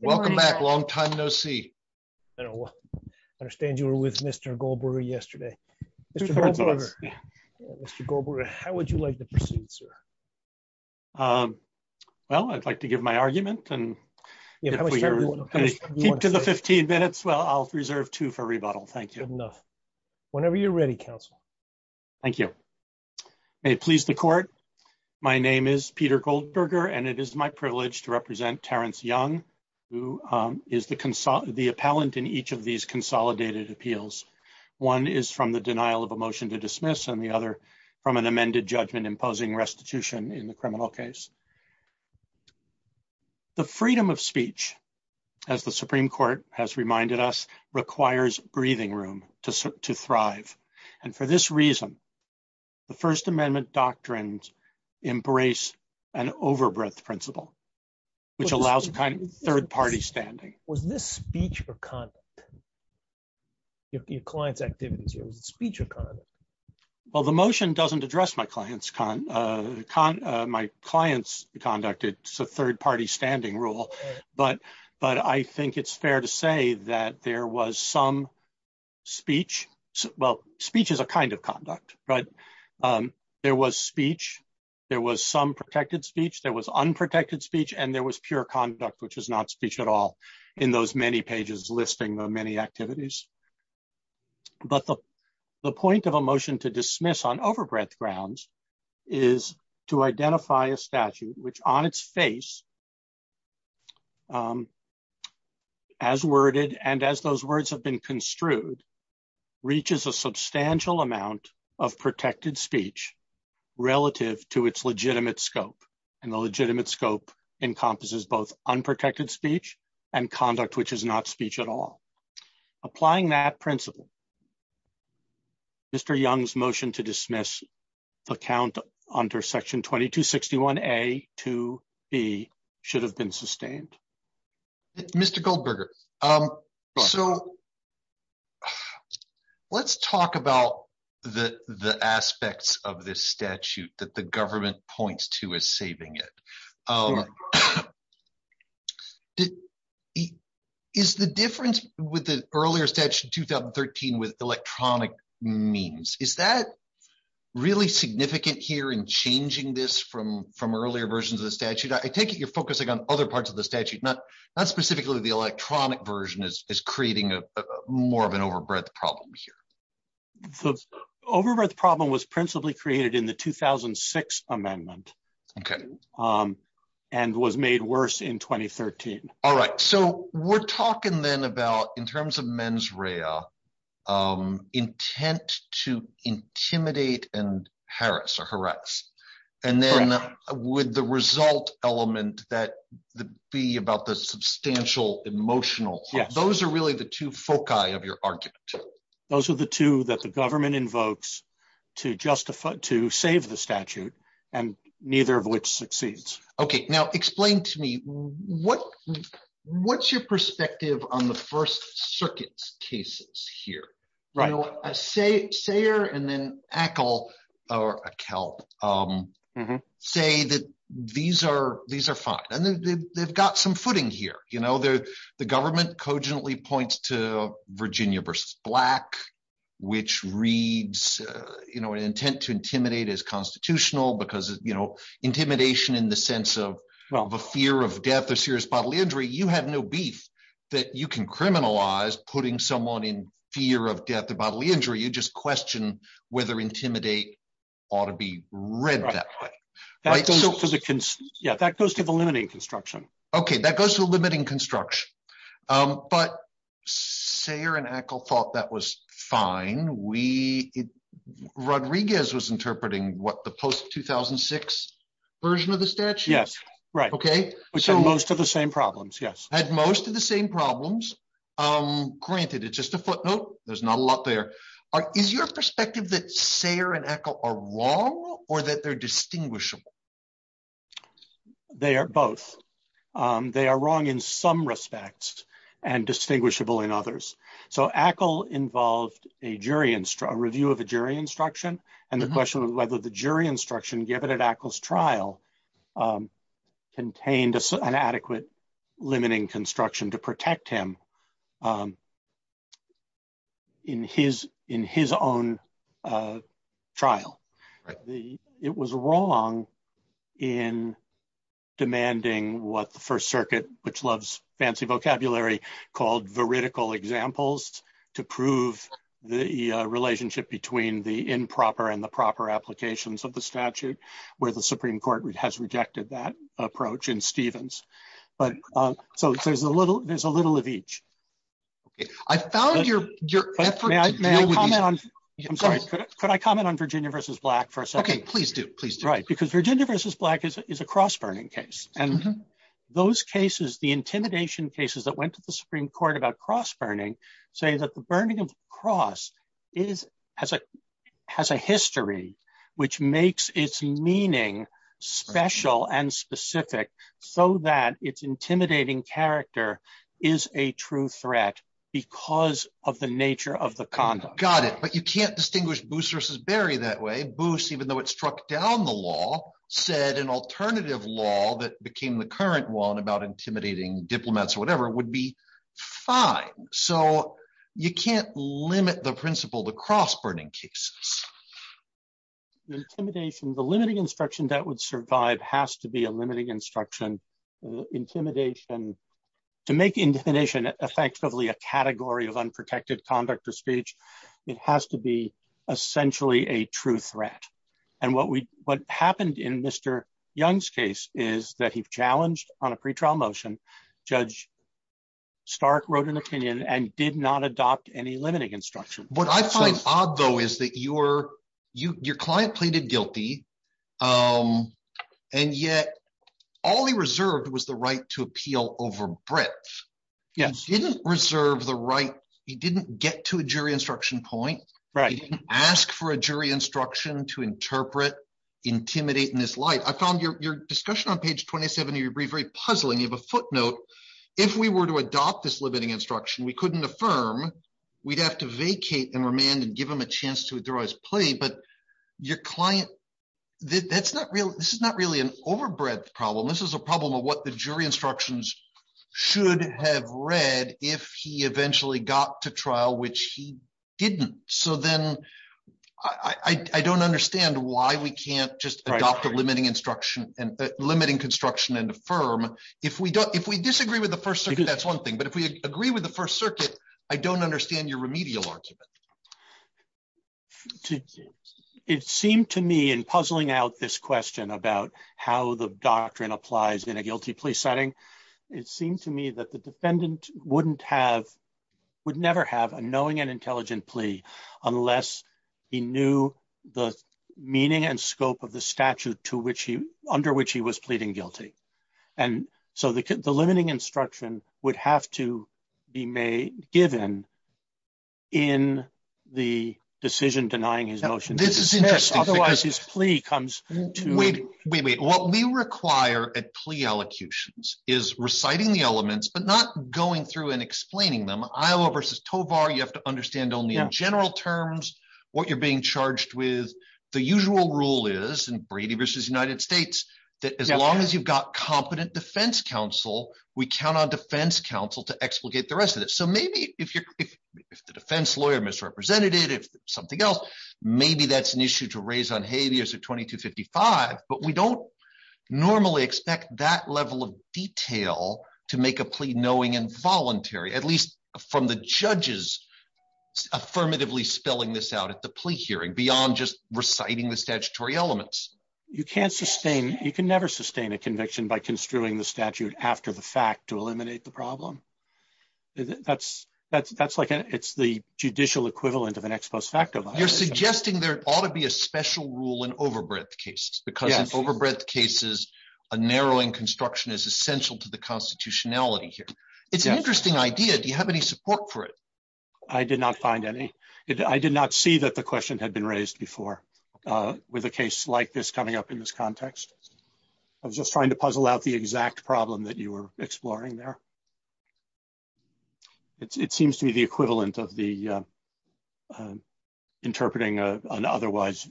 Welcome back, long time no see. I understand you were with Mr. Goldberger yesterday. Mr. Goldberger, how would you like to proceed, sir? Well, I'd like to give my argument and keep to the 15 minutes. Well, I'll reserve two for rebuttal. Thank you. Whenever you're ready, counsel. Thank you. May it please the court. My name is to represent Terrence Young, who is the appellant in each of these consolidated appeals. One is from the denial of a motion to dismiss and the other from an amended judgment imposing restitution in the criminal case. The freedom of speech, as the Supreme Court has reminded us, requires breathing room to thrive. And for this reason, the First Amendment doctrines embrace an overbreath principle, which allows a kind of third party standing. Was this speech or conduct? Your client's activities here, was it speech or conduct? Well, the motion doesn't address my client's conduct. It's a third party standing rule. But I think it's fair to say that there was some speech. Well, speech is a kind of conduct. But there was speech. There was some protected speech. There was unprotected speech. And there was pure conduct, which is not speech at all in those many pages listing the many activities. But the point of a motion to dismiss on overbreadth grounds is to identify a statute, which on its face as worded and as those words have been construed, reaches a substantial amount of protected speech relative to its legitimate scope. And the legitimate scope encompasses both unprotected speech and conduct, which is not speech at all. Applying that principle, Mr. Young's motion to dismiss the count under section 2261A to B should have been sustained. Mr. Goldberger, so let's talk about the aspects of this statute that the government points to as saving it. Is the difference with the earlier statute 2013 with electronic means, is that really significant here in changing this from earlier versions of the statute? I take it you're focusing on other parts of the statute, not specifically the more of an overbreadth problem here. The overbreadth problem was principally created in the 2006 amendment and was made worse in 2013. All right. So we're talking then about, in terms of mens rea, intent to intimidate and harass or harass. And then with the result element that be about the substantial emotional. Those are really the two foci of your argument. Those are the two that the government invokes to save the statute, and neither of which succeeds. Explain to me, what's your perspective on the First Circuit's cases here? Sayer and then Akel say that these are fine. They've got some footing here. The government points to Virginia v. Black, which reads intent to intimidate as constitutional because intimidation in the sense of a fear of death or serious bodily injury, you have no beef that you can criminalize putting someone in fear of death or bodily injury. You just question whether intimidate ought to be read that way. That goes to the limiting construction. Okay. That goes to the limiting construction. But Sayer and Akel thought that was fine. Rodriguez was interpreting the post-2006 version of the statute. Had most of the same problems. Granted, it's just a footnote. There's not a lot there. Is your perspective that Sayer and Akel are wrong or that they're distinguishable? They are both. They are wrong in some respects and distinguishable in others. Akel involved a review of a jury instruction and the question of whether the jury instruction given at Akel's trial contained an adequate limiting construction to protect him in his own trial. It was wrong in demanding what the First Circuit, which loves fancy vocabulary, called veridical examples to prove the relationship between the improper and the proper applications of the statute where the Supreme Court has rejected that approach in Stevens. There's a little of each. I found your effort to deal with these. Could I comment on Virginia v. Black for a second? Virginia v. Black is a cross-burning case. The intimidation cases that went to the Supreme Court about cross-burning say that the burning of the cross has a history which makes its meaning special and specific so that its intimidating character is a true threat because of the nature of the conduct. Got it. But you can't distinguish Boose v. Berry that way. Boose, even though it struck down the law, said an alternative law that became the current one about intimidating diplomats or whatever would be fine. So you can't limit the principle to cross-burning cases. The intimidation, the limiting instruction that would survive has to be a limiting instruction. To make intimidation effectively a category of unprotected conduct or speech, it has to be essentially a true threat. And what happened in Mr. Young's case is that he challenged on a pretrial motion Judge Stark wrote an opinion and did not adopt any limiting instruction. What I find odd, though, is that your client pleaded guilty and yet all he reserved was the right to appeal over breadth. He didn't reserve the right, he didn't get to a jury instruction point. He didn't ask for a jury instruction to interpret, intimidate in this light. I found your discussion on page 27 of your brief very puzzling. You have a footnote. If we were to adopt this limiting instruction, we couldn't affirm we'd have to vacate and remand and give him a chance to withdraw his plea, but your client this is not really an over breadth problem. This is a problem of what the jury instructions should have read if he eventually got to trial, which he didn't. So then I don't understand why we can't just adopt a limiting instruction, limiting construction and affirm. If we disagree with the First Circuit, that's one thing. But if we agree with the First Circuit, I don't know why we can't do that. It seemed to me in puzzling out this question about how the doctrine applies in a guilty plea setting, it seemed to me that the defendant would never have a knowing and intelligent plea unless he knew the meaning and scope of the statute under which he was pleading guilty. So the limiting instruction would have to be given in the decision denying his motion. This is interesting. Otherwise his plea comes to... Wait, wait, wait. What we require at plea allocutions is reciting the elements, but not going through and explaining them. Iowa v. Tovar, you have to understand only in general terms what you're being charged with. The usual rule is in Brady v. United States that as long as you've got competent defense counsel, we count on defense counsel to explicate the rest of it. So maybe if the defense lawyer misrepresented it, if something else, maybe that's an issue to raise on habeas at 2255, but we don't normally expect that level of detail to make a plea knowing and voluntary, at least from the judges affirmatively spelling this out at the plea hearing, beyond just reciting the statutory elements. You can't sustain... You can't sustain a plea knowing and voluntarily construing the statute after the fact to eliminate the problem. That's like... It's the judicial equivalent of an ex post facto violation. You're suggesting there ought to be a special rule in overbreadth cases because in overbreadth cases, a narrowing construction is essential to the constitutionality here. It's an interesting idea. Do you have any support for it? I did not find any. I did not see that the question had been asked about the exact problem that you were exploring there. It seems to be the equivalent of the interpreting an otherwise...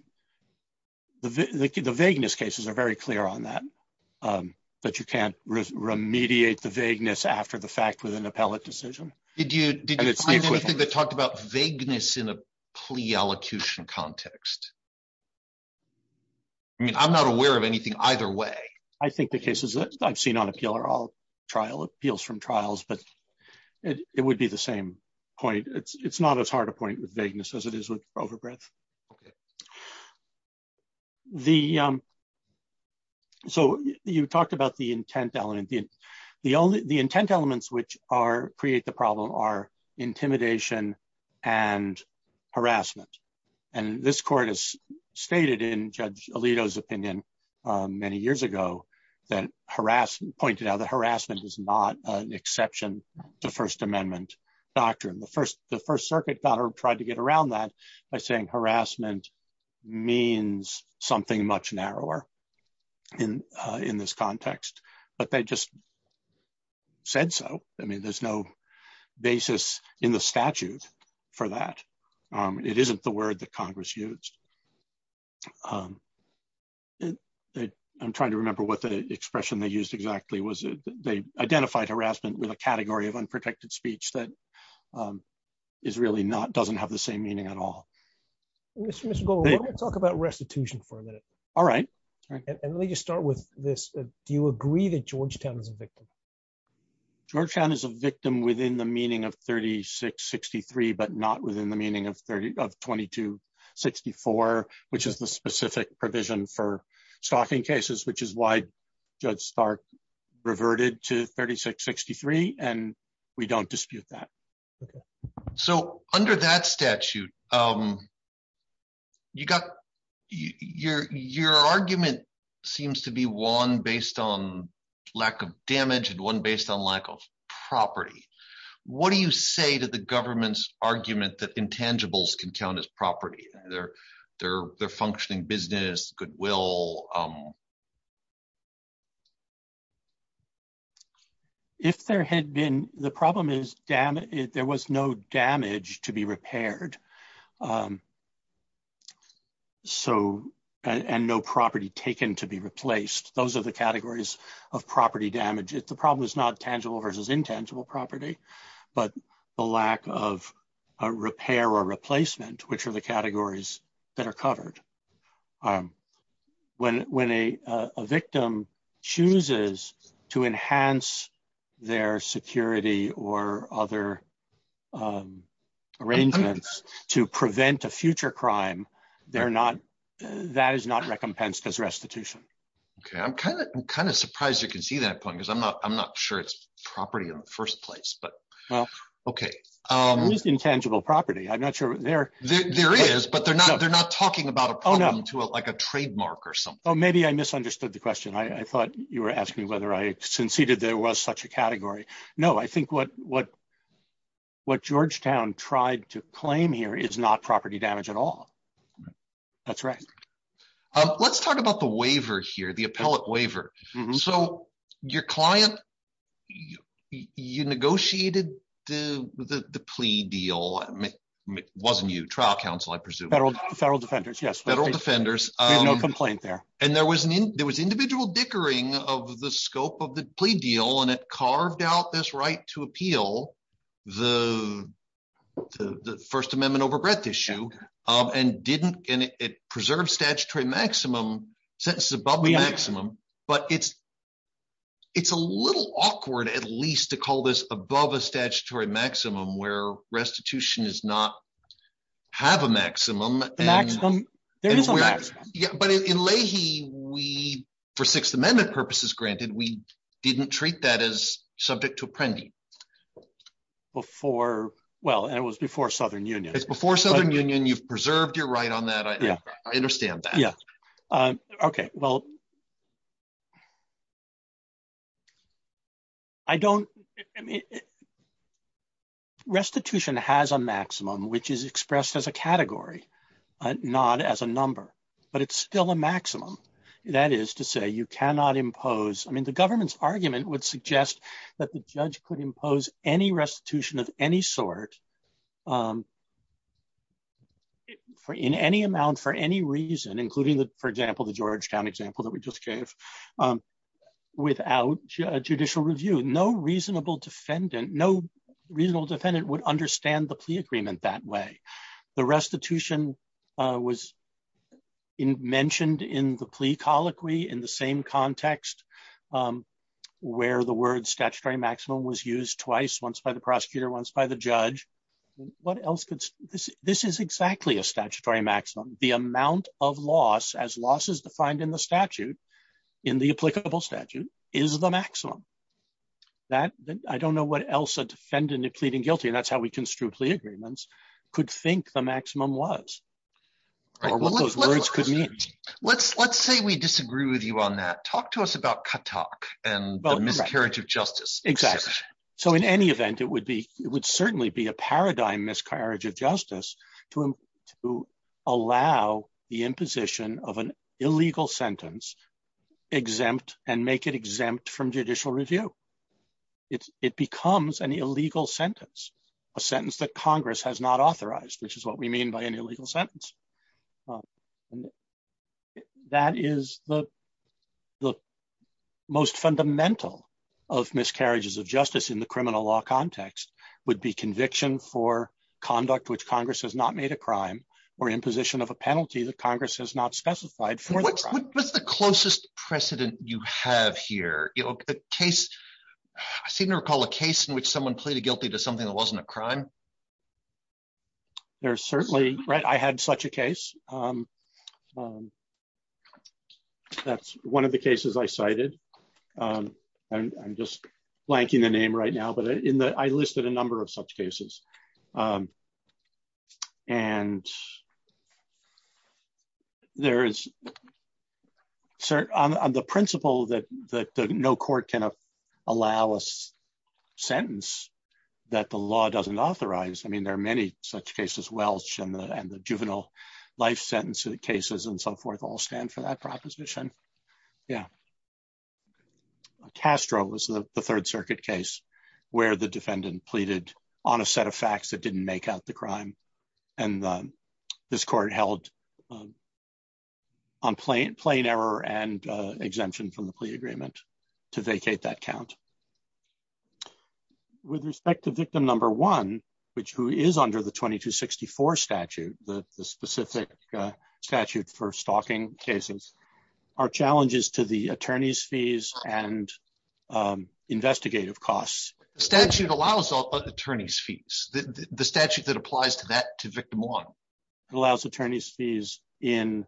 The vagueness cases are very clear on that, that you can't remediate the vagueness after the fact with an appellate decision. Did you find anything that talked about vagueness in a plea elocution context? I mean, I'm not aware of anything either way. I think the cases that I've seen on appeal are all appeals from trials, but it would be the same point. It's not as hard a point with vagueness as it is with overbreadth. Okay. You talked about the intent element. The intent elements which create the problem are intimidation and harassment. This court has stated in Judge Alito's opinion many years ago that harassment... pointed out that harassment is not an exception to First Amendment doctrine. The First Circuit tried to get around that by saying harassment means something much narrower in this context, but they just said so. I mean, there's no basis in the statute for that. It isn't the word that I'm trying to remember what the expression they used exactly was. They identified harassment with a category of unprotected speech that doesn't have the same meaning at all. Mr. Gold, let me talk about restitution for a minute. All right. Let me just start with this. Do you agree that Georgetown is a victim? Georgetown is a victim within the meaning of 3663, but not within the meaning of 2264, which is the specific provision for stalking cases, which is why Judge Stark reverted to 3663 and we don't dispute that. So, under that statute, you got... your argument seems to be one based on lack of damage and one based on lack of property. What do you say to the government's argument that intangibles can be counted as property? Their functioning business, goodwill? If there had been... the problem is there was no damage to be repaired. So, and no property taken to be replaced. Those are the categories of property damage. The problem is not tangible versus intangible property, but the lack of repair or replacement, which are the categories that are covered. When a victim chooses to enhance their security or other arrangements to prevent a future crime, they're not... that is not recompensed as restitution. Okay. I'm kind of surprised you can see that point because I'm not sure it's property in the first place, but... There is intangible property. I'm not sure there... There is, but they're not talking about a problem to like a trademark or something. Oh, maybe I misunderstood the question. I thought you were asking whether I conceded there was such a category. No, I think what Georgetown tried to claim here is not property damage at all. That's right. Let's talk about the waiver here, the appellate waiver. So, your client, you negotiated the plea deal, wasn't you? Trial counsel, I presume. Federal defenders, yes. Federal defenders. And there was individual dickering of the scope of the plea deal and it carved out this right to appeal the First Amendment overbreadth issue and it preserved statutory maximum, sentences above the maximum, but it's a little awkward at least to call this above a statutory maximum where restitution does not have a maximum. There is a maximum. But in Leahy, we, for Sixth Amendment purposes granted, we didn't treat that as subject to appending. Before... Well, and it was before Southern Union. It's before Southern Union. You've preserved your right on that. I understand that. Yeah. Okay. Well... I don't... Restitution has a maximum, which is expressed as a category, not as a number. But it's still a maximum. That is to say, you cannot impose... I mean, the government's argument would suggest that the judge could impose any restitution of any sort in any amount for any reason, including, for example, the Georgetown example that we just gave, without judicial review. No reasonable defendant would understand the plea agreement that way. The restitution was mentioned in the plea colloquy in the same context where the word statutory maximum was used twice, once by the prosecutor, once by the judge. This is exactly a statutory maximum. The amount of loss, as loss is defined in the statute, in the applicable statute, is the maximum. That... I don't know what else a defendant in pleading guilty, and that's how we construe plea agreements, could think the maximum was, or what those words could mean. Let's say we disagree with you on that. Talk to us about katak and the miscarriage of justice. Exactly. So in any event, it would certainly be a paradigm miscarriage of justice to allow the imposition of an illegal sentence exempt and make it exempt from judicial review. It becomes an illegal sentence, a sentence that Congress has not authorized, which is what we mean by an illegal sentence. That is the most fundamental of miscarriages of justice in the criminal law context, would be conviction for conduct which Congress has not made a crime or imposition of a penalty that Congress has not specified for the crime. What's the closest precedent you have here? A case... I seem to recall a case in which someone pleaded guilty to something that wasn't a crime. I had such a case. That's one of the cases I cited. I'm just blanking the name right now, but I listed a number of such cases. There is... On the principle that no court can allow a sentence that the law doesn't authorize, there are many such cases, Welch and the juvenile life sentence cases and so forth all stand for that proposition. Castro was the third circuit case where the defendant pleaded on a set of facts that didn't make out the crime. This court held on plain error and exemption from the plea agreement to vacate that count. With respect to victim number one, who is under the 2264 statute, the specific statute for stalking cases, our challenges to the attorney's fees and investigative costs... The statute allows attorney's fees. The statute that applies to that to victim one. It allows attorney's fees in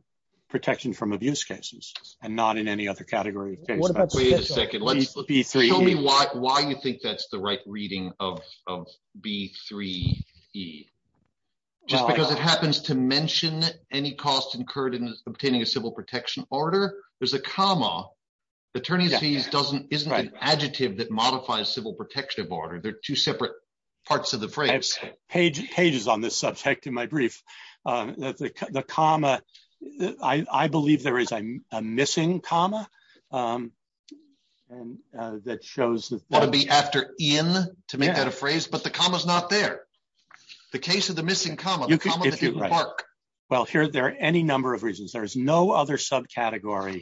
protection from abuse cases and not in any other category. Wait a second. Tell me why you think that's the right reading of B3E. Just because it happens to mention any cost incurred in obtaining a civil protection order. There's a comma. Attorney's fees isn't an adjective that modifies civil protection order. They're two separate parts of the phrase. I have pages on this subject in my brief. The comma... I believe there is a missing comma that shows... That would be after in to make that a phrase, but the comma's not there. The case of the missing comma. Well, there are any number of reasons. There's no other subcategory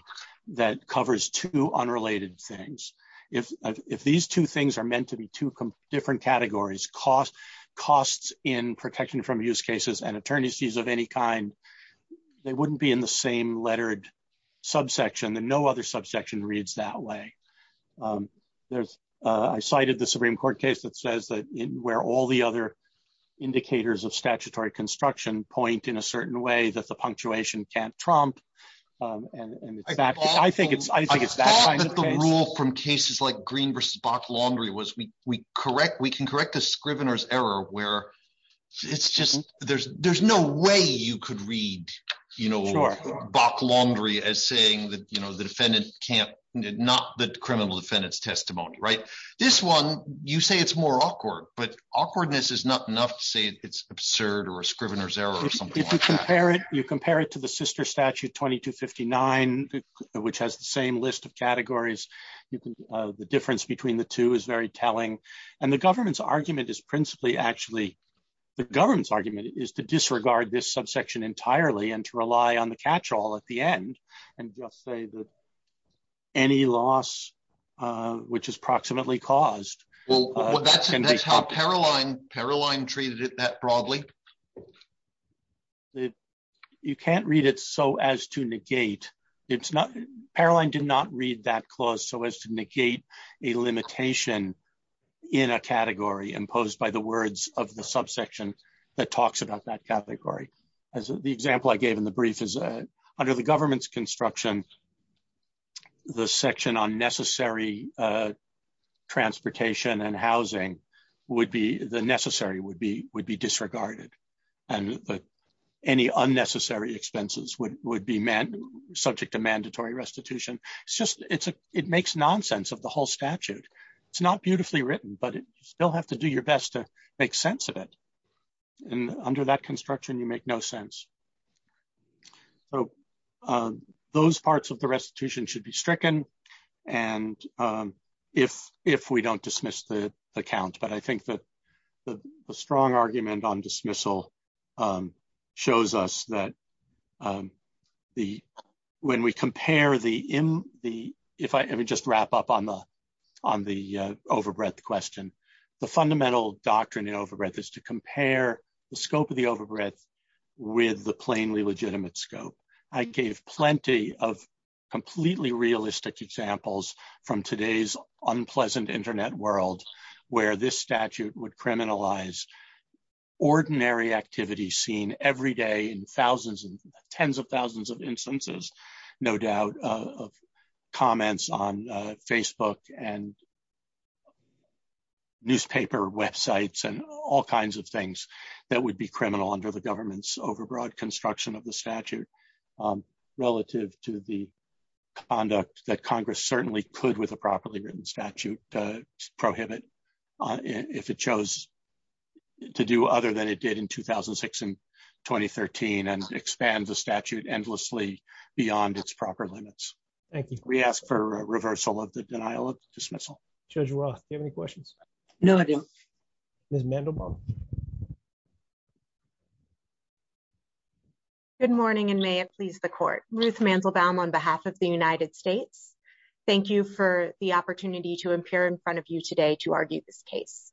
that covers two unrelated things. If these two things are meant to be two different categories, costs in protection from abuse cases and attorney's fees of any kind, they wouldn't be in the same lettered subsection. No other subsection reads that way. I cited the Supreme Court case that says where all the other indicators of statutory construction point in a certain way that the Supreme Court can't do that. I think it's that kind of case. I thought that the rule from cases like Green v. Bok-Longry was we can correct a scrivener's error where there's no way you could read Bok-Longry as saying that the defendant can't... Not the criminal defendant's testimony. This one, you say it's more like to the fiction 10. The C-59 which has the same list of categories, the difference between the two is very telling, and the Government's argument is principally actually... The Government's argument is to disregard this subsection entirely and to rely on the catch-all at the end, and just say that any loss, which is proximately caused by the C-59... That's how Paroline treated it that broadly. You can't read it so as to negate... Paroline did not read that clause so as to negate a limitation in a category imposed by the words of the subsection that talks about that category. The example I gave in the brief is under the Government's construction, the section on necessary transportation and housing would be... The necessary would be disregarded, and any unnecessary expenses would be subject to mandatory restitution. It's just... It makes nonsense of the whole statute. It's not beautifully written, but you still have to do your best to make sense of it. And under that construction, you make no sense. So those parts of the restitution should be stricken, and if we don't dismiss the count. But I think that the strong argument on dismissal shows us that when we compare the... Let me just wrap up on the overbreadth question. The fundamental doctrine in overbreadth is to compare the scope of the overbreadth with the plainly legitimate scope. I gave plenty of completely realistic examples from today's unpleasant Internet world where this statute would criminalize ordinary activity seen every day in thousands and tens of thousands of instances, no doubt, of comments on Facebook and newspaper websites and all kinds of things that would be criminal under the government's overbroad construction of the statute relative to the conduct that Congress certainly could with a properly written statute prohibit if it chose to do other than it did in 2006 and 2013 and expand the statute endlessly beyond its proper limits. Thank you. We ask for a reversal of the denial of dismissal. Judge Roth, do you have any questions? No, I do. Ms. Mandelbaum. Good morning and may it please the court. Ruth Mandelbaum on behalf of the United States. Thank you for the opportunity to appear in front of you today to argue this case.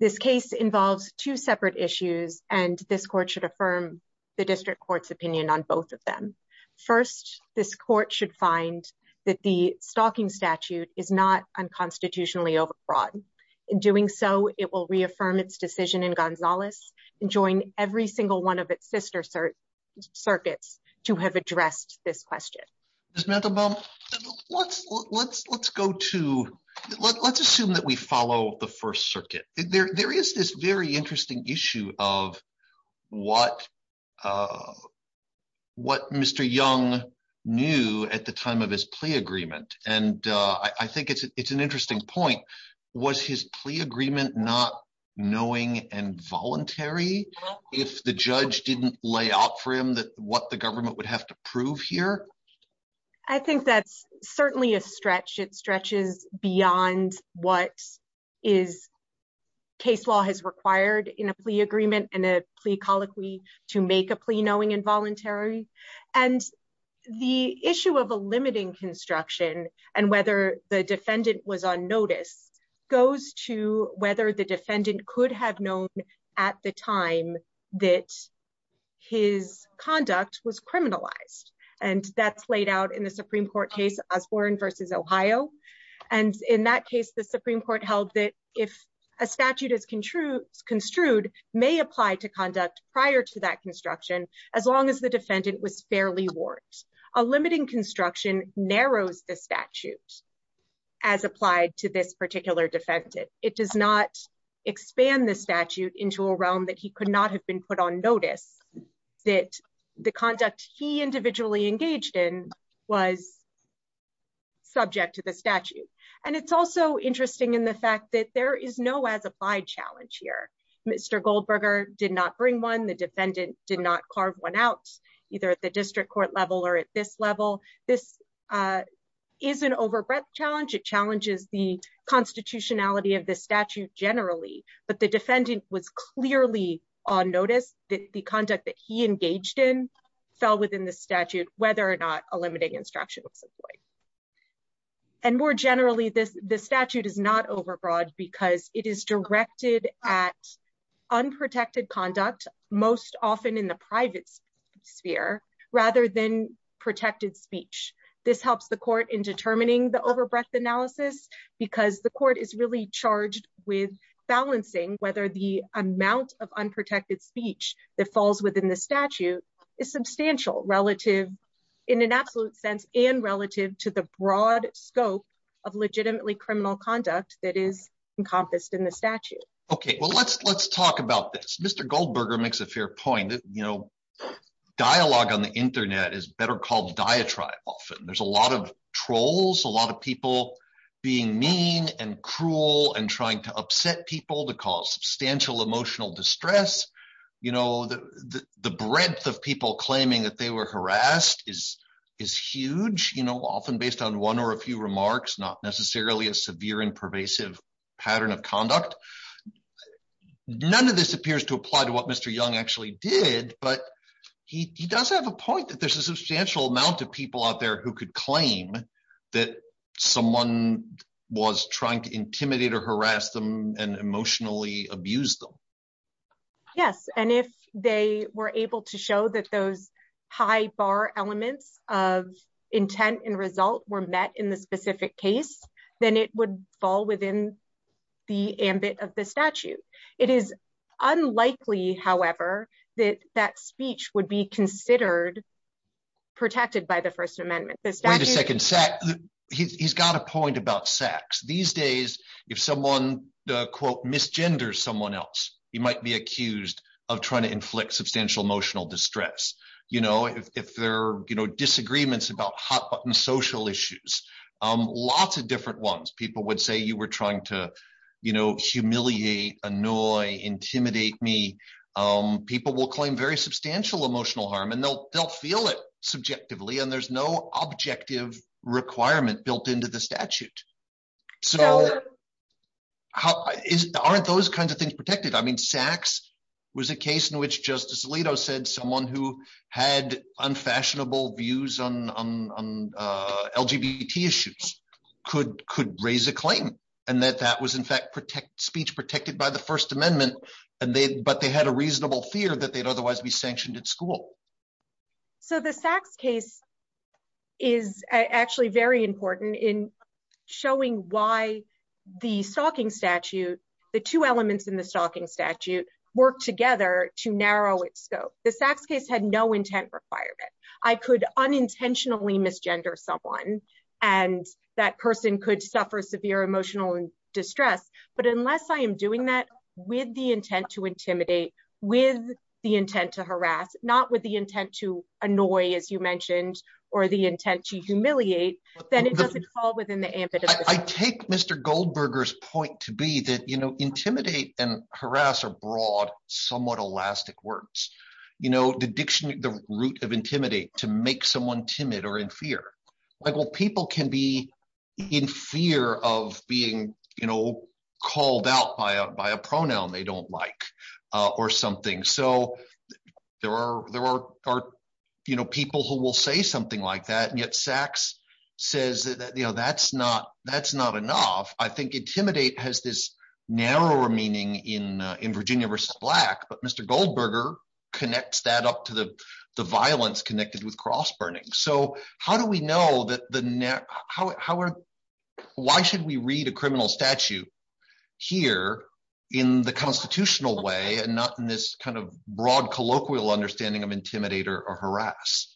This case involves two separate issues and this court should affirm the district court's opinion on both of them. First, this court should find that the stalking statute is not unconstitutionally overbroad. In doing so, it will reaffirm its decision in Gonzales and join every single one of its sister circuits to have addressed this question. Ms. Mandelbaum, let's assume that we follow the First Circuit. There is this very interesting issue of what Mr. Young knew at the time of his plea agreement and I think it's an interesting point. Was his plea agreement not knowing and voluntary if the judge didn't lay out for him what the government would have to prove here? I think that's certainly a stretch. It stretches beyond what case law has required in a plea agreement and a plea colloquy to make a plea knowing and voluntary. The issue of a limiting construction and whether the defendant was on notice goes to whether the defendant could have known at the time that his conduct was criminalized and that's laid out in the Supreme Court case Osborne v. Ohio. In that case, the Supreme Court held that if a statute is construed as a limited construction, then the defendant was fairly warned. A limiting construction narrows the statute as applied to this particular defendant. It does not expand the statute into a realm that he could not have been put on notice that the conduct he individually engaged in was subject to the statute and it's also interesting in the fact that there is no as applied challenge here. Mr. Goldberger did not bring one. The defendant did not carve one out either at the district court level or at this level. This is an over breadth challenge. It challenges the constitutionality of the statute generally, but the defendant was clearly on notice that the conduct that he engaged in fell within the statute whether or not a limiting instruction was employed. More generally, the statute is not over broad because it is directed at unprotected conduct most often in the private sphere rather than protected speech. This helps the court in determining the over breadth analysis because the court is really charged with balancing whether the amount of unprotected speech that falls within the statute is substantial relative in an absolute sense and relative to the broad scope of legitimately criminal conduct that is encompassed in the statute. Let's talk about this. Mr. Goldberger makes a fair point. Dialogue on the internet is better called diatribe often. There's a lot of trolls, a lot of people being mean and cruel and trying to upset people to cause substantial emotional distress. The breadth of people claiming that they were harassed is huge, often based on one or a few minor and pervasive pattern of conduct. None of this appears to apply to what Mr. Young actually did, but he does have a point that there's a substantial amount of people out there who could claim that someone was trying to intimidate or harass them and emotionally abuse them. Yes, and if they were able to show that those high bar elements of intent and result were met in the specific case, then it would fall within the ambit of the statute. It is unlikely, however, that that speech would be considered protected by the First Amendment. Wait a second. He's got a point about sex. These days, if someone quote misgenders someone else, he might be accused of trying to inflict substantial emotional distress. If there are disagreements about hot button social issues, lots of different ones. People would say you were trying to humiliate, annoy, intimidate me. People will claim very substantial emotional harm, and they'll feel it subjectively, and there's no objective requirement built into the statute. Aren't those kinds of things protected? I mean, sex was a case in which Justice Alito said someone who had unfashionable views on LGBT issues could raise a claim, and that that was in fact speech protected by the First Amendment, but they had a reasonable fear that they'd otherwise be sanctioned at school. So the Sachs case is actually very important in showing why the stalking statute, the two elements in the stalking statute work together to narrow its scope. The Sachs case had no intent requirement. I could unintentionally misgender someone, and that person could suffer severe emotional distress, but unless I am doing that with the intent to intimidate, with the intent to harass, not with the intent to annoy, as you mentioned, or the intent to humiliate, then it doesn't fall within the ambit of the statute. I take Mr. Goldberger's point to be that intimidate and harass are broad, somewhat elastic words. The dictionary, the root of intimidate, to make someone timid or in fear. Well, people can be in fear of being called out by a pronoun they don't like or something. So there are people who will say something like that, and yet Sachs says that's not enough. I think intimidate has this narrower meaning in Virginia versus Black, but Mr. Goldberger connects that up to the violence connected with cross-burning. So how do we know that the, how are, why should we read a criminal statute here in the constitutional way and not in this kind of broad colloquial understanding of intimidate or harass?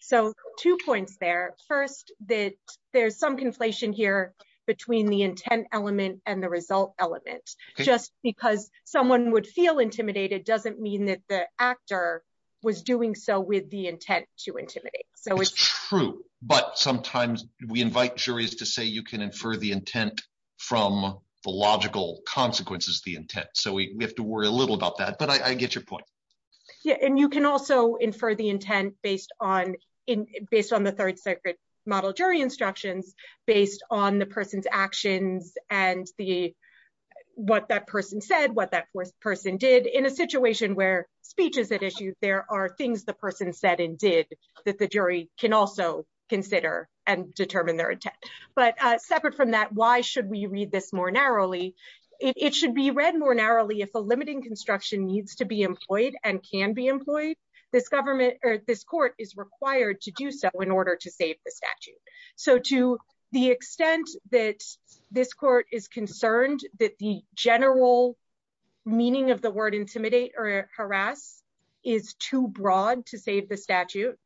So two points there. First that there's some conflation here between the intent element and the result element. Just because someone would feel intimidated doesn't mean that the actor was doing so with the intent to intimidate. So it's true, but sometimes we invite juries to say you can infer the intent from the logical consequences of the intent. So we have to worry a little about that, but I get your point. Yeah, and you can also infer the intent based on the Third Circuit model jury instructions based on the person's actions and what that person said, what that person did. In a situation where speech is at issue there are things the person said and did that the jury can also consider and determine their intent. But separate from that, why should we read this more narrowly? It should be read more narrowly if a limiting construction needs to be employed and can be employed, this government or this court is required to do so in order to save the statute. So to the extent that this court is concerned that the general meaning of the word intimidate or harass is too broad to save the statute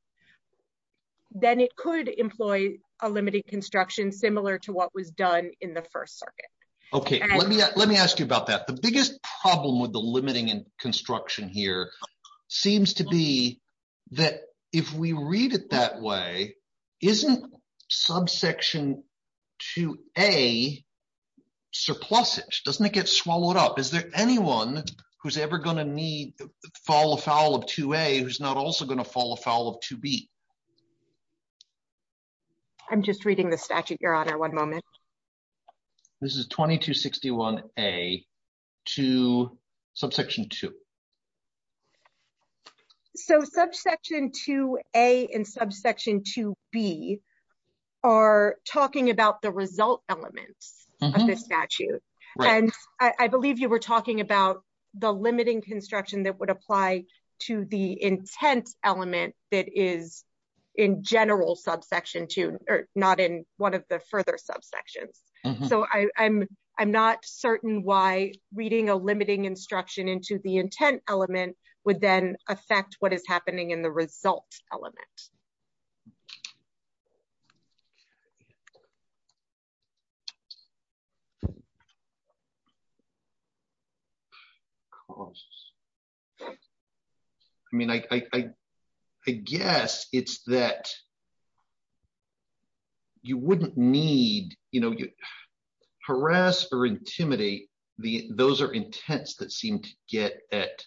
then it could employ a limiting construction similar to what was done in the First Circuit. Let me ask you about that. The biggest problem with the limiting construction here seems to be that if we read it that way, isn't subsection 2A surplusage? Doesn't it get swallowed up? Is there anyone who's ever going to fall afoul of 2A who's not also going to fall afoul of 2B? I'm just reading the statute, Your Honor. One moment. This is 2261A to subsection 2. So subsection 2A and subsection 2B are talking about the result elements of this statute. I believe you were talking about the limiting construction that would apply to the intent element that is in general subsection 2, not in one of the further subsections. So I'm not certain why reading a limiting instruction into the intent element would then affect what is happening in the result element. I mean, I guess it's that you wouldn't need you know, harass or intimidate. Those are intents that seem to get at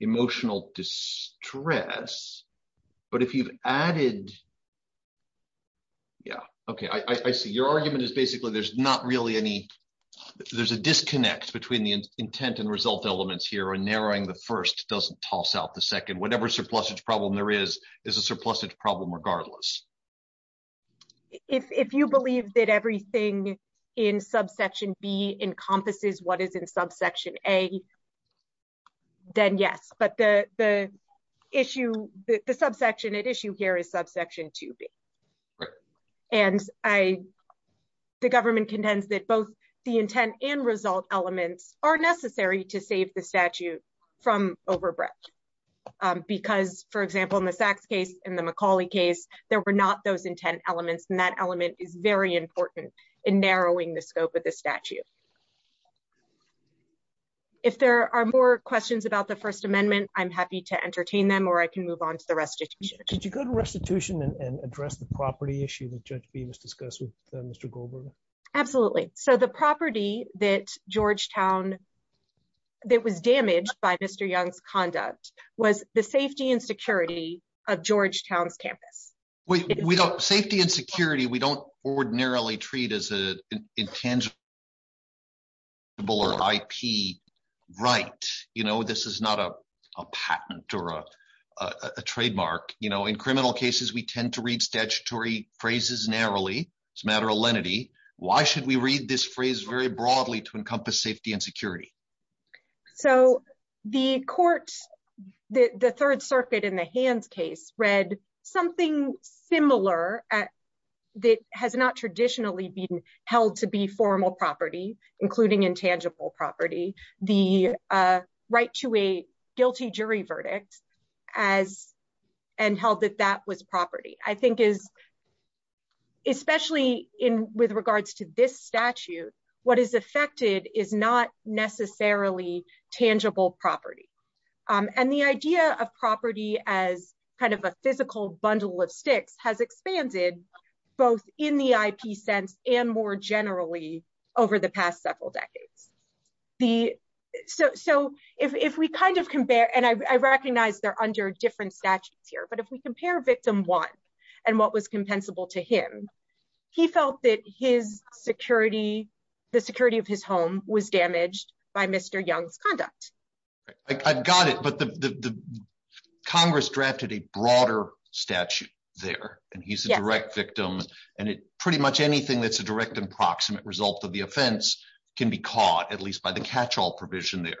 emotional distress. But if you've added yeah, okay, I see. Your argument is basically there's not really any, there's a disconnect between the intent and result elements here and narrowing the first doesn't toss out the second. Whatever surplusage problem there is, is a surplusage problem regardless. If you believe that everything in subsection B encompasses what is in subsection A then yes. But the issue the subsection at issue here is subsection 2B. And the government contends that both the intent and result elements are necessary to save the statute from overbreadth. Because for example, in the for not those intent elements and that element is very important in narrowing the scope of the statute. If there are more questions about the First Amendment, I'm happy to entertain them or I can move on to the restitution. Could you go to restitution and address the property issue that Judge Beamis discussed with Mr. Goldberger? Absolutely. So the property that Georgetown, that was damaged by Mr. Young's conduct was the safety and security of Georgetown's campus. We don't, safety and security we don't ordinarily treat as an intangible or IP right. You know, this is not a patent or a trademark. You know, in criminal cases we tend to read statutory phrases narrowly. It's a matter of lenity. Why should we read this phrase very broadly to encompass safety and security? So the court the Third Circuit in the Hands case read something similar that has not traditionally been held to be formal property, including intangible property. The right to a guilty jury verdict and held that that was property. I think is especially with regards to this statute what is affected is not necessarily tangible property. And the idea of property as kind of a physical bundle of sticks has expanded both in the IP sense and more generally over the past several decades. So if we kind of compare, and I recognize they're under different statutes here, but if we compare victim one and what was compensable to him he felt that his security, the security of his home was damaged by Mr. Young's conduct. I've got it but the Congress drafted a broader statute there and he's a direct victim and pretty much anything that's a direct and proximate result of the offense can be caught at least by the catch all provision there,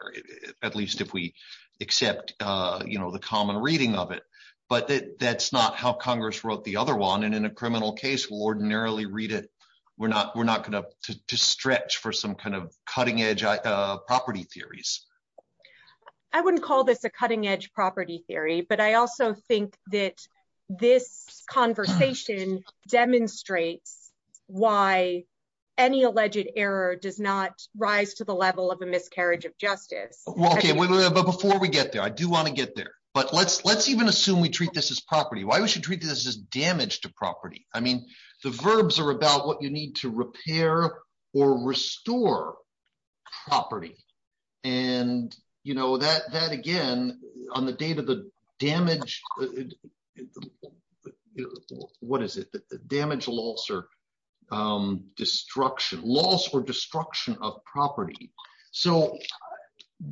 at least if we accept the common reading of it. But that's not how Congress wrote the other one and in a criminal case we'll ordinarily read it. We're not going to stretch for some kind of cutting edge property theories. I wouldn't call this a cutting edge property theory but I also think that this conversation demonstrates why any alleged error does not rise to the level of a miscarriage of justice. Before we get there, I do want to get there, but let's even assume we treat this as property why we should treat this as damage to property? I mean the verbs are about what you need to repair or restore property and that again on the date of the damage what is it? The damage, loss, or destruction. Loss or destruction of property.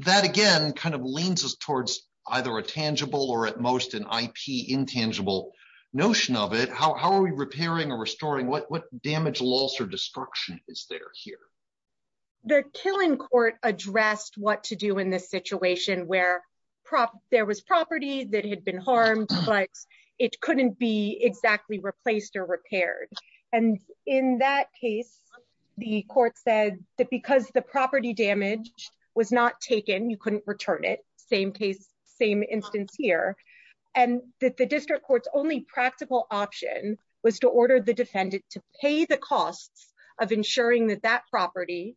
That again kind of leans us towards either a tangible or at most an IP intangible notion of it. How are we repairing or restoring? What damage, loss, or destruction is there here? The killing court addressed what to do in this situation where there was property that had been harmed but it couldn't be exactly replaced or repaired and in that case the court said that because the property damage was not taken, you couldn't return it same case, same instance here, and that the district court's only practical option was to order the defendant to pay the costs of ensuring that that property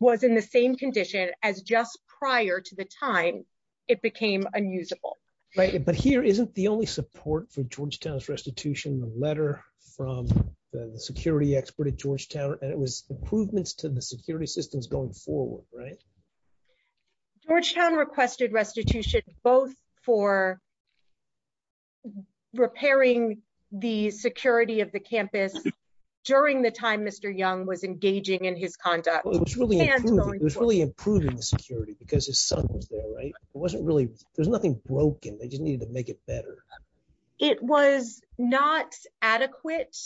was in the same condition as just prior to the time it became unusable. Right, but here isn't the only support for Georgetown's restitution the letter from the security expert at Georgetown and it was improvements to the security systems going forward, right? Georgetown requested restitution both for repairing the security of the campus during the time Mr. Young was engaging in his conduct. It was really improving the security because his son was there, right? There's nothing broken, they just needed to make it better. It was not adequate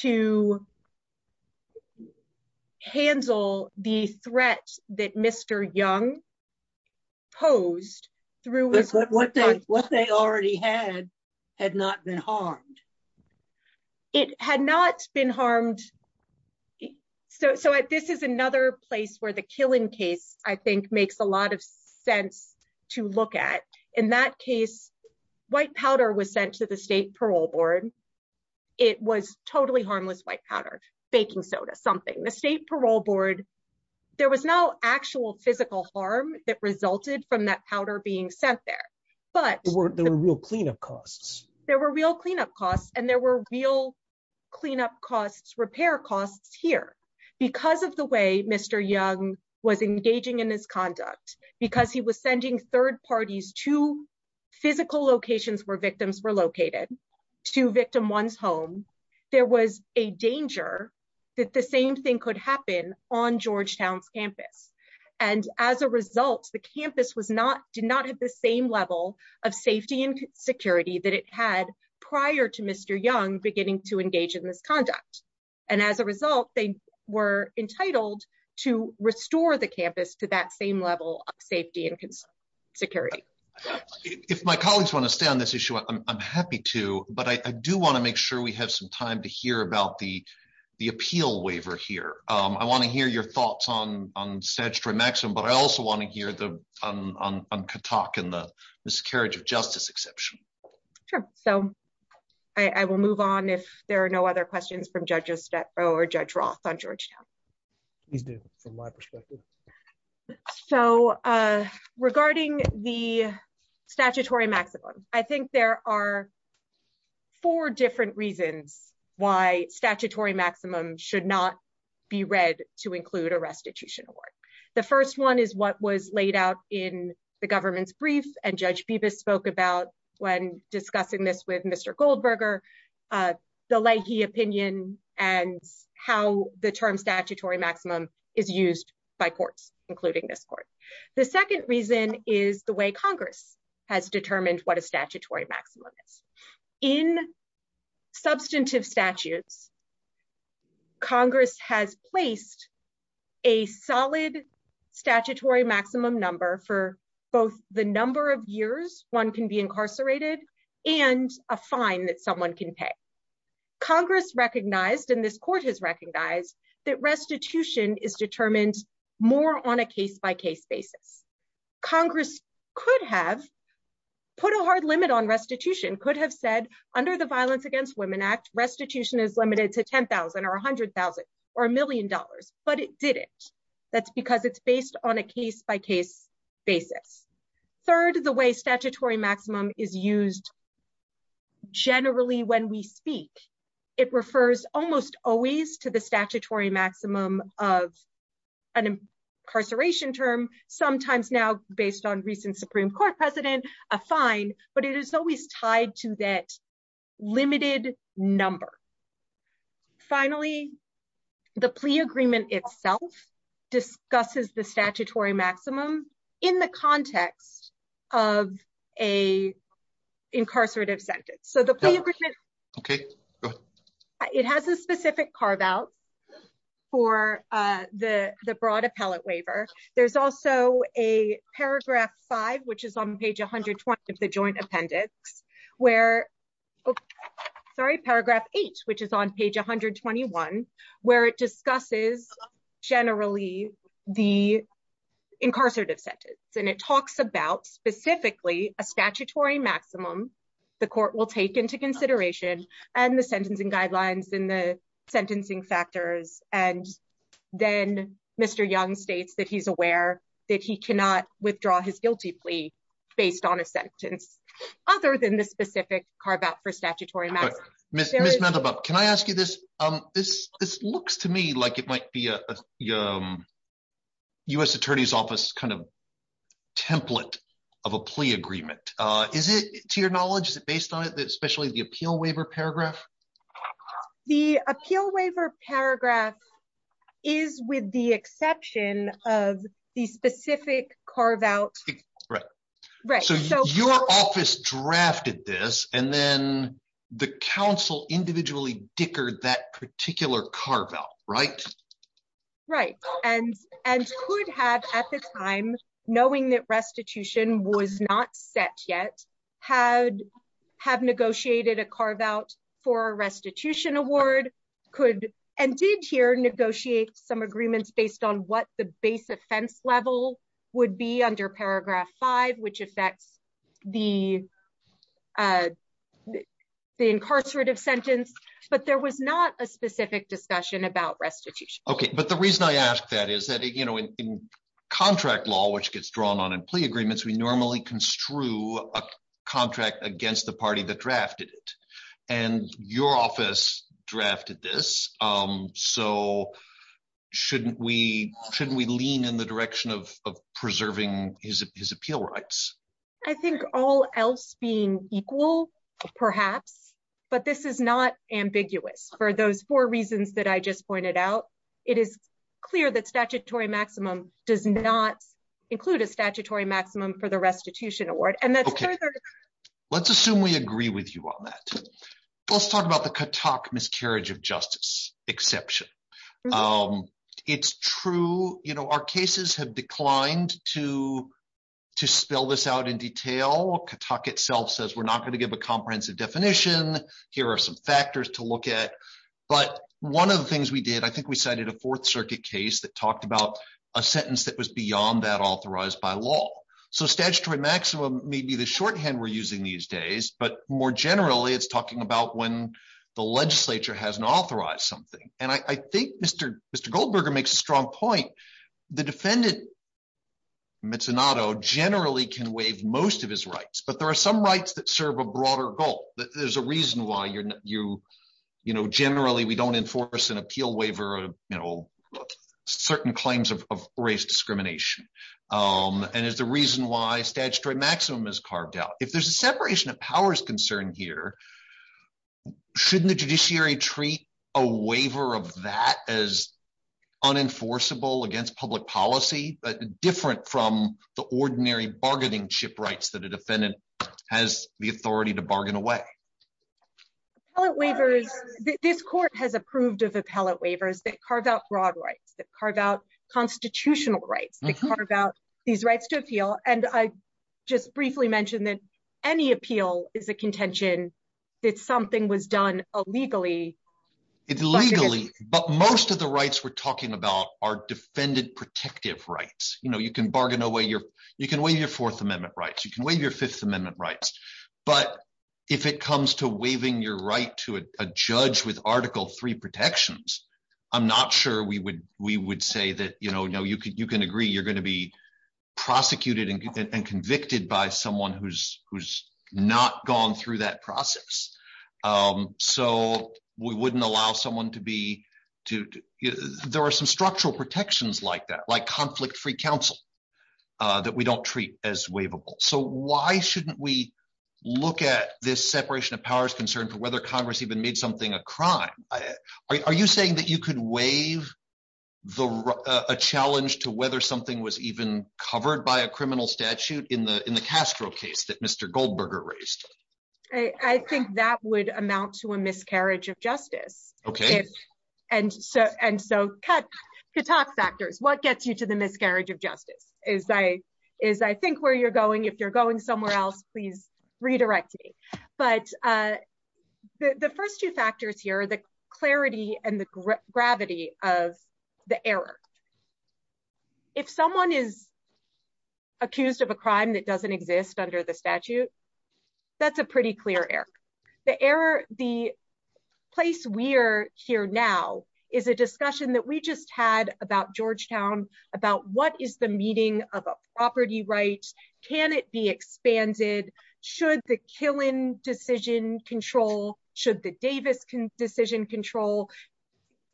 to handle the threat that Mr. Young posed What they already had had not been harmed. It had not been harmed so this is another place where the Killen case I think makes a lot of sense to look at. In that case, white powder was sent to the state parole board it was totally harmless white powder, baking soda, something the state parole board, there was no actual physical harm that resulted from that powder being sent there. There were real cleanup costs and there were real cleanup costs, repair costs here. Because of the way Mr. Young was engaging in his conduct, because he was sending third parties to physical locations where victims were located, to victim one's home, there was a danger that the same thing could happen on Georgetown's campus and as a result, the campus did not have the same level of safety and security that it had prior to Mr. Young beginning to engage in this conduct. And as a result, they were entitled to restore the campus to that same level of safety and security. If my colleagues want to stay on this issue, I'm happy to, but I do want to make sure we have some time to hear about the appeal waiver here. I want to hear your thoughts on statutory maximum, but I also want to hear on Katak and the miscarriage of justice exception. Sure, so I will move on if there are no other questions from Judge Estepo or Judge Roth on Georgetown. Please do, from my perspective. So, regarding the statutory maximum, I think there are four different reasons why statutory maximum should not be read to include a restitution award. The first one is what was laid out in the government's brief and Judge Bibas spoke about when discussing this with Mr. Goldberger, the Leahy opinion and how the term statutory maximum is used by courts, including this court. The second reason is the way Congress has determined what a statutory maximum is. In substantive statutes, Congress has placed a solid statutory maximum number for both the number of years one can be incarcerated and a fine that someone can pay. Congress recognized, and this court has recognized, that restitution is determined more on a case-by-case basis. Congress could have put a hard limit on restitution, could have said, under the Violence Against Women Act, restitution is limited to $10,000 or $100,000 or $1 million, but it didn't. That's because it's based on a case-by-case basis. Third, the way statutory maximum is used generally when we speak. It refers almost always to the statutory maximum of an incarceration term, sometimes now based on recent Supreme Court precedent, a fine, but it is always tied to that limited number. Finally, the plea agreement itself discusses the statutory maximum in the context of an incarcerative sentence. It has a specific carve-out for the broad appellate waiver. There's also a paragraph 8 of the Joint Appendix which is on page 121, where it discusses generally the incarcerative sentence. It talks about specifically a statutory maximum the court will take into consideration and the sentencing guidelines and the sentencing factors. Then Mr. Young states that he's aware that he cannot withdraw his guilty plea based on a sentence other than the specific carve-out for statutory maximum. This looks to me like it might be a U.S. Attorney's Office kind of template of a plea agreement. Is it, to your knowledge, is it based on especially the appeal waiver paragraph? The appeal waiver paragraph is with the exception of the specific carve-out. Your office drafted this and then the counsel individually dickered that particular carve-out, right? Right, and could have at the time knowing that restitution was not set yet have negotiated a carve-out for a restitution award and did here negotiate some agreements based on what the base offense level would be under paragraph five, which affects the incarcerative sentence, but there was not a specific discussion about restitution. Okay, but the reason I ask that is that in contract law, which gets drawn on in plea agreements, we normally construe a contract against the party that drafted it and your office drafted this so shouldn't we lean in the direction of preserving his appeal rights? I think all else being equal, perhaps, but this is not ambiguous for those four reasons that I just pointed out. It is clear that statutory maximum does not include a statutory maximum for the restitution award and that's further Let's assume we agree with you on that. Let's talk about the exception. It's true, you know, our cases have declined to spell this out in detail. Katuk itself says we're not going to give a comprehensive definition. Here are some factors to look at, but one of the things we did, I think we cited a Fourth Circuit case that talked about a sentence that was beyond that authorized by law. So statutory maximum may be the shorthand we're using these days, but more generally it's talking about when the defendant has a right to appeal. And I think Mr. Goldberger makes a strong point. The defendant generally can waive most of his rights, but there are some rights that serve a broader goal. There's a reason why generally we don't enforce an appeal waiver or certain claims of race discrimination. And it's the reason why statutory maximum is carved out. If there's a separation of waiver of that as unenforceable against public policy, but different from the ordinary bargaining chip rights that a defendant has the authority to bargain away. Appellate waivers, this court has approved of appellate waivers that carve out broad rights, that carve out constitutional rights, that carve out these rights to appeal. And I just briefly mentioned that any appeal is a contention that something was done illegally. But most of the rights we're talking about are defended protective rights. You can bargain away your Fourth Amendment rights, you can waive your Fifth Amendment rights, but if it comes to waiving your right to a judge with Article III protections, I'm not sure we would say that you can agree you're going to be prosecuted and convicted by someone who's not gone through that process. So we wouldn't allow someone to be there are some structural protections like that, like conflict-free counsel, that we don't treat as waivable. So why shouldn't we look at this separation of powers concern for whether Congress even made something a crime? Are you saying that you could waive a challenge to whether something was even covered by a criminal statute in the Castro case that Mr. Goldberger raised? I think that would amount to a miscarriage of justice. Okay. And so, what gets you to the miscarriage of justice is I think where you're going. If you're going somewhere else, please redirect me. But the first two factors here are the clarity and the gravity of the error. If someone is accused of a crime that doesn't exist under the statute, that's a pretty clear error. The place we're here now is a discussion that we just had about Georgetown, about what is the meaning of a property right? Can it be expanded? Should the Killen decision control? Should the Davis decision control?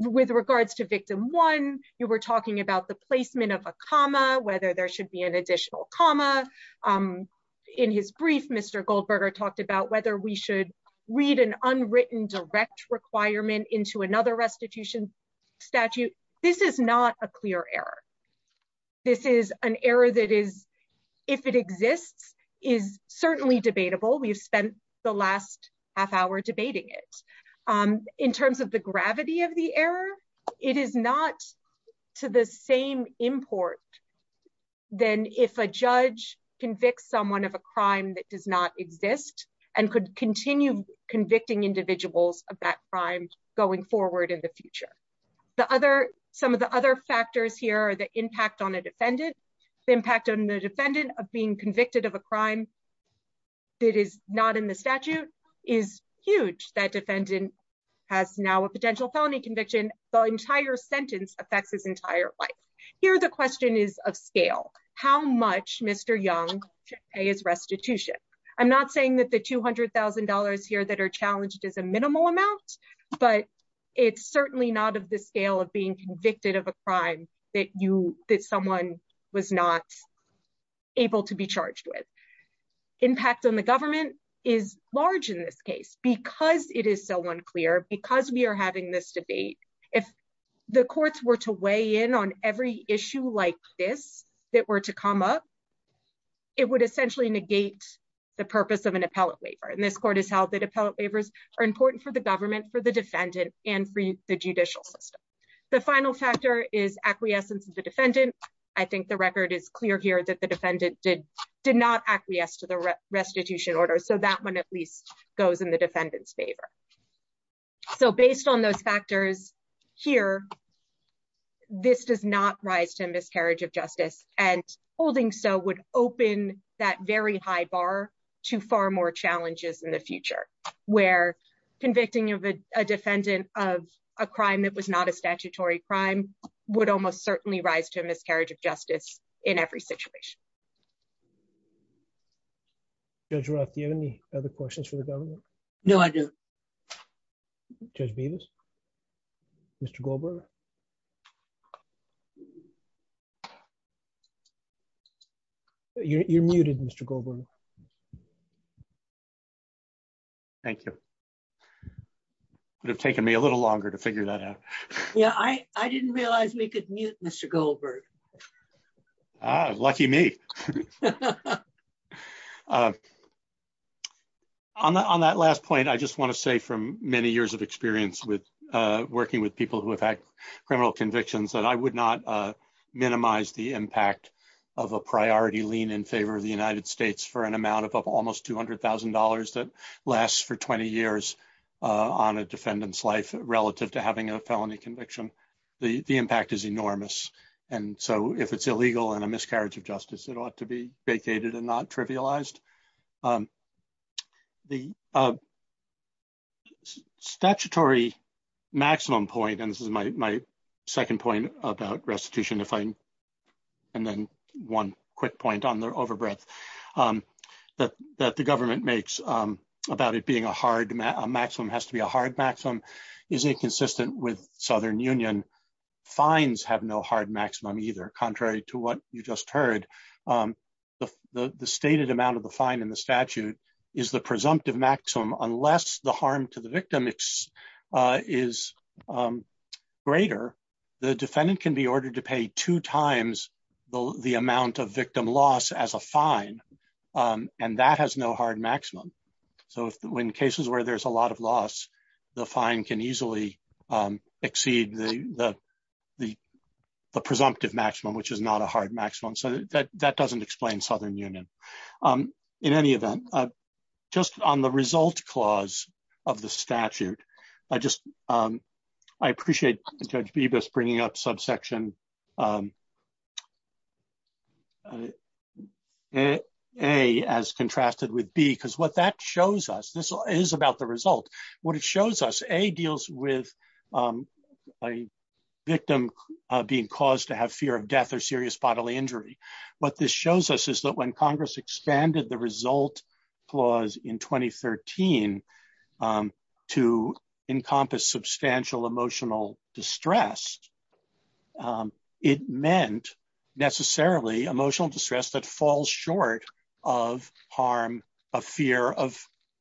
With regards to victim one, you were talking about the placement of a comma, whether there should be an additional comma. In his brief, Mr. Goldberger talked about whether we should read an unwritten direct requirement into another restitution statute. This is not a clear error. This is an error that is if it exists, is certainly debatable. We've spent the last half hour debating it. In terms of the gravity of the error, it is not to the same import than if a judge convicts someone of a crime that does not exist and could continue convicting individuals of that crime going forward in the future. Some of the other factors here are the impact on a defendant. The impact on the defendant of being convicted of a crime that is not in the statute is huge. That defendant has now a potential felony conviction. The entire sentence affects his entire life. Here the question is of scale. How much, Mr. Young, should pay his restitution? I'm not saying that the $200,000 here that are challenged is a minimal amount, but it's certainly not of the scale of being convicted of a crime that someone was not able to be charged with. Impact on the government is large in this case. Because it is so unclear, because we are having this debate, if the courts were to weigh in on every issue like this that were to come up, it would essentially negate the purpose of an appellate waiver. This court has held that appellate waivers are important for the government, for the defendant, and for the judicial system. The final factor is acquiescence of the defendant. I think the record is clear here that the defendant did not acquiesce to the restitution order, so that one at least goes in the defendant's favor. Based on those factors here, this does not rise to a miscarriage of justice. Holding so would open that very high bar to far more challenges in the future, where convicting a defendant of a crime that was not a statutory crime would almost certainly rise to a miscarriage of justice in every situation. Judge Roth, do you have any other questions for the government? No, I do. Judge Beavis? Mr. Goldberg? You're muted, Mr. Goldberg. Thank you. It would have taken me a little longer to figure that out. Yeah, I didn't realize we could mute Mr. Goldberg. Ah, lucky me. On that last point, I just want to say from many years of experience working with people who have had criminal convictions that I would not minimize the impact of a priority lien in favor of the United States for an amount of almost $200,000 that lasts for 20 years on a defendant's life relative to having a felony conviction. The impact is enormous. And so if it's illegal and a miscarriage of justice, it ought to be vacated and not trivialized. The statutory maximum point and this is my second point about restitution, and then one quick point on the overbreadth that the government makes about it being a hard maximum has to be a hard maximum is inconsistent with Southern Union law, which states that the maximum that a defendant can pay for a felony conviction fines have no hard maximum either. Contrary to what you just heard, the stated amount of the fine in the statute is the presumptive maximum unless the harm to the victim is greater, the defendant can be ordered to pay two times the amount of victim loss as a presumptive maximum, which is not a hard maximum. So that doesn't explain Southern Union. In any event, just on the result clause of the statute, I appreciate Judge Bibas bringing up subsection A as contrasted with B because what that shows us, this is about the result, what it shows us, A deals with a victim being caused to have fear of death or serious bodily injury. What this shows us is that when Congress expanded the result clause in 2013 to encompass substantial emotional distress, it meant necessarily emotional distress that falls short of harm of fear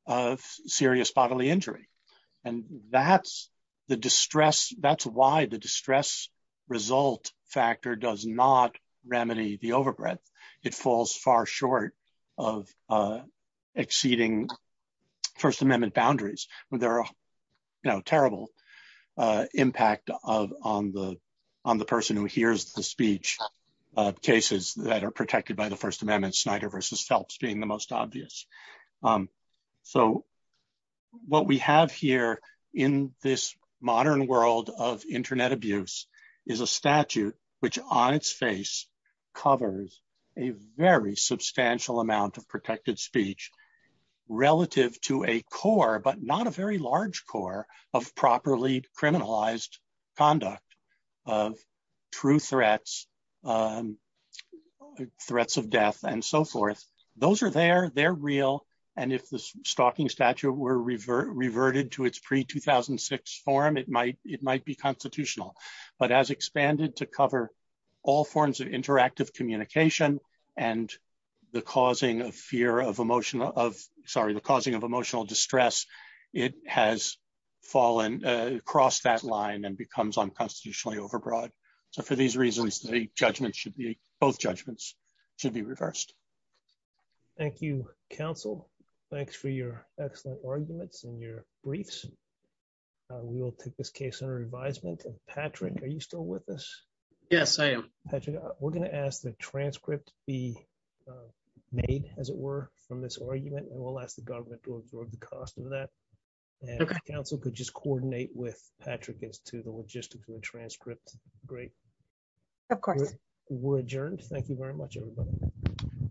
of serious bodily injury. And that's the distress, that's why the distress result factor does not remedy the overbreadth. It falls far short of exceeding First Amendment boundaries. There are terrible impact on the person who hears the speech, cases that are protected by the First Amendment, Snyder v. Phelps being the most obvious. So what we have here in this modern world of Internet abuse is a statute which on its face covers a very substantial amount of protected speech relative to a core, but not a very large core, of properly criminalized conduct of true threats, threats of death, and so forth. Those are there, they're real, and if the stalking statute were reverted to its pre-2006 form, it might be constitutional. But as expanded to cover all forms of interactive communication and the causing of fear of emotional distress, it has fallen across that line and becomes unconstitutionally overbroad. So for these reasons, both judgments should be reversed. Thank you, counsel. Thanks for your excellent arguments and your briefs. We will take this case under advisement. Patrick, are you still with us? Yes, I am. Patrick, we're going to ask the transcript be made, as it were, from this argument, and we'll ask the government to absorb the cost of that. And if counsel could just coordinate with Patrick as to the logistics of the transcript, great. Of course. We're adjourned. Thank you very much, everybody.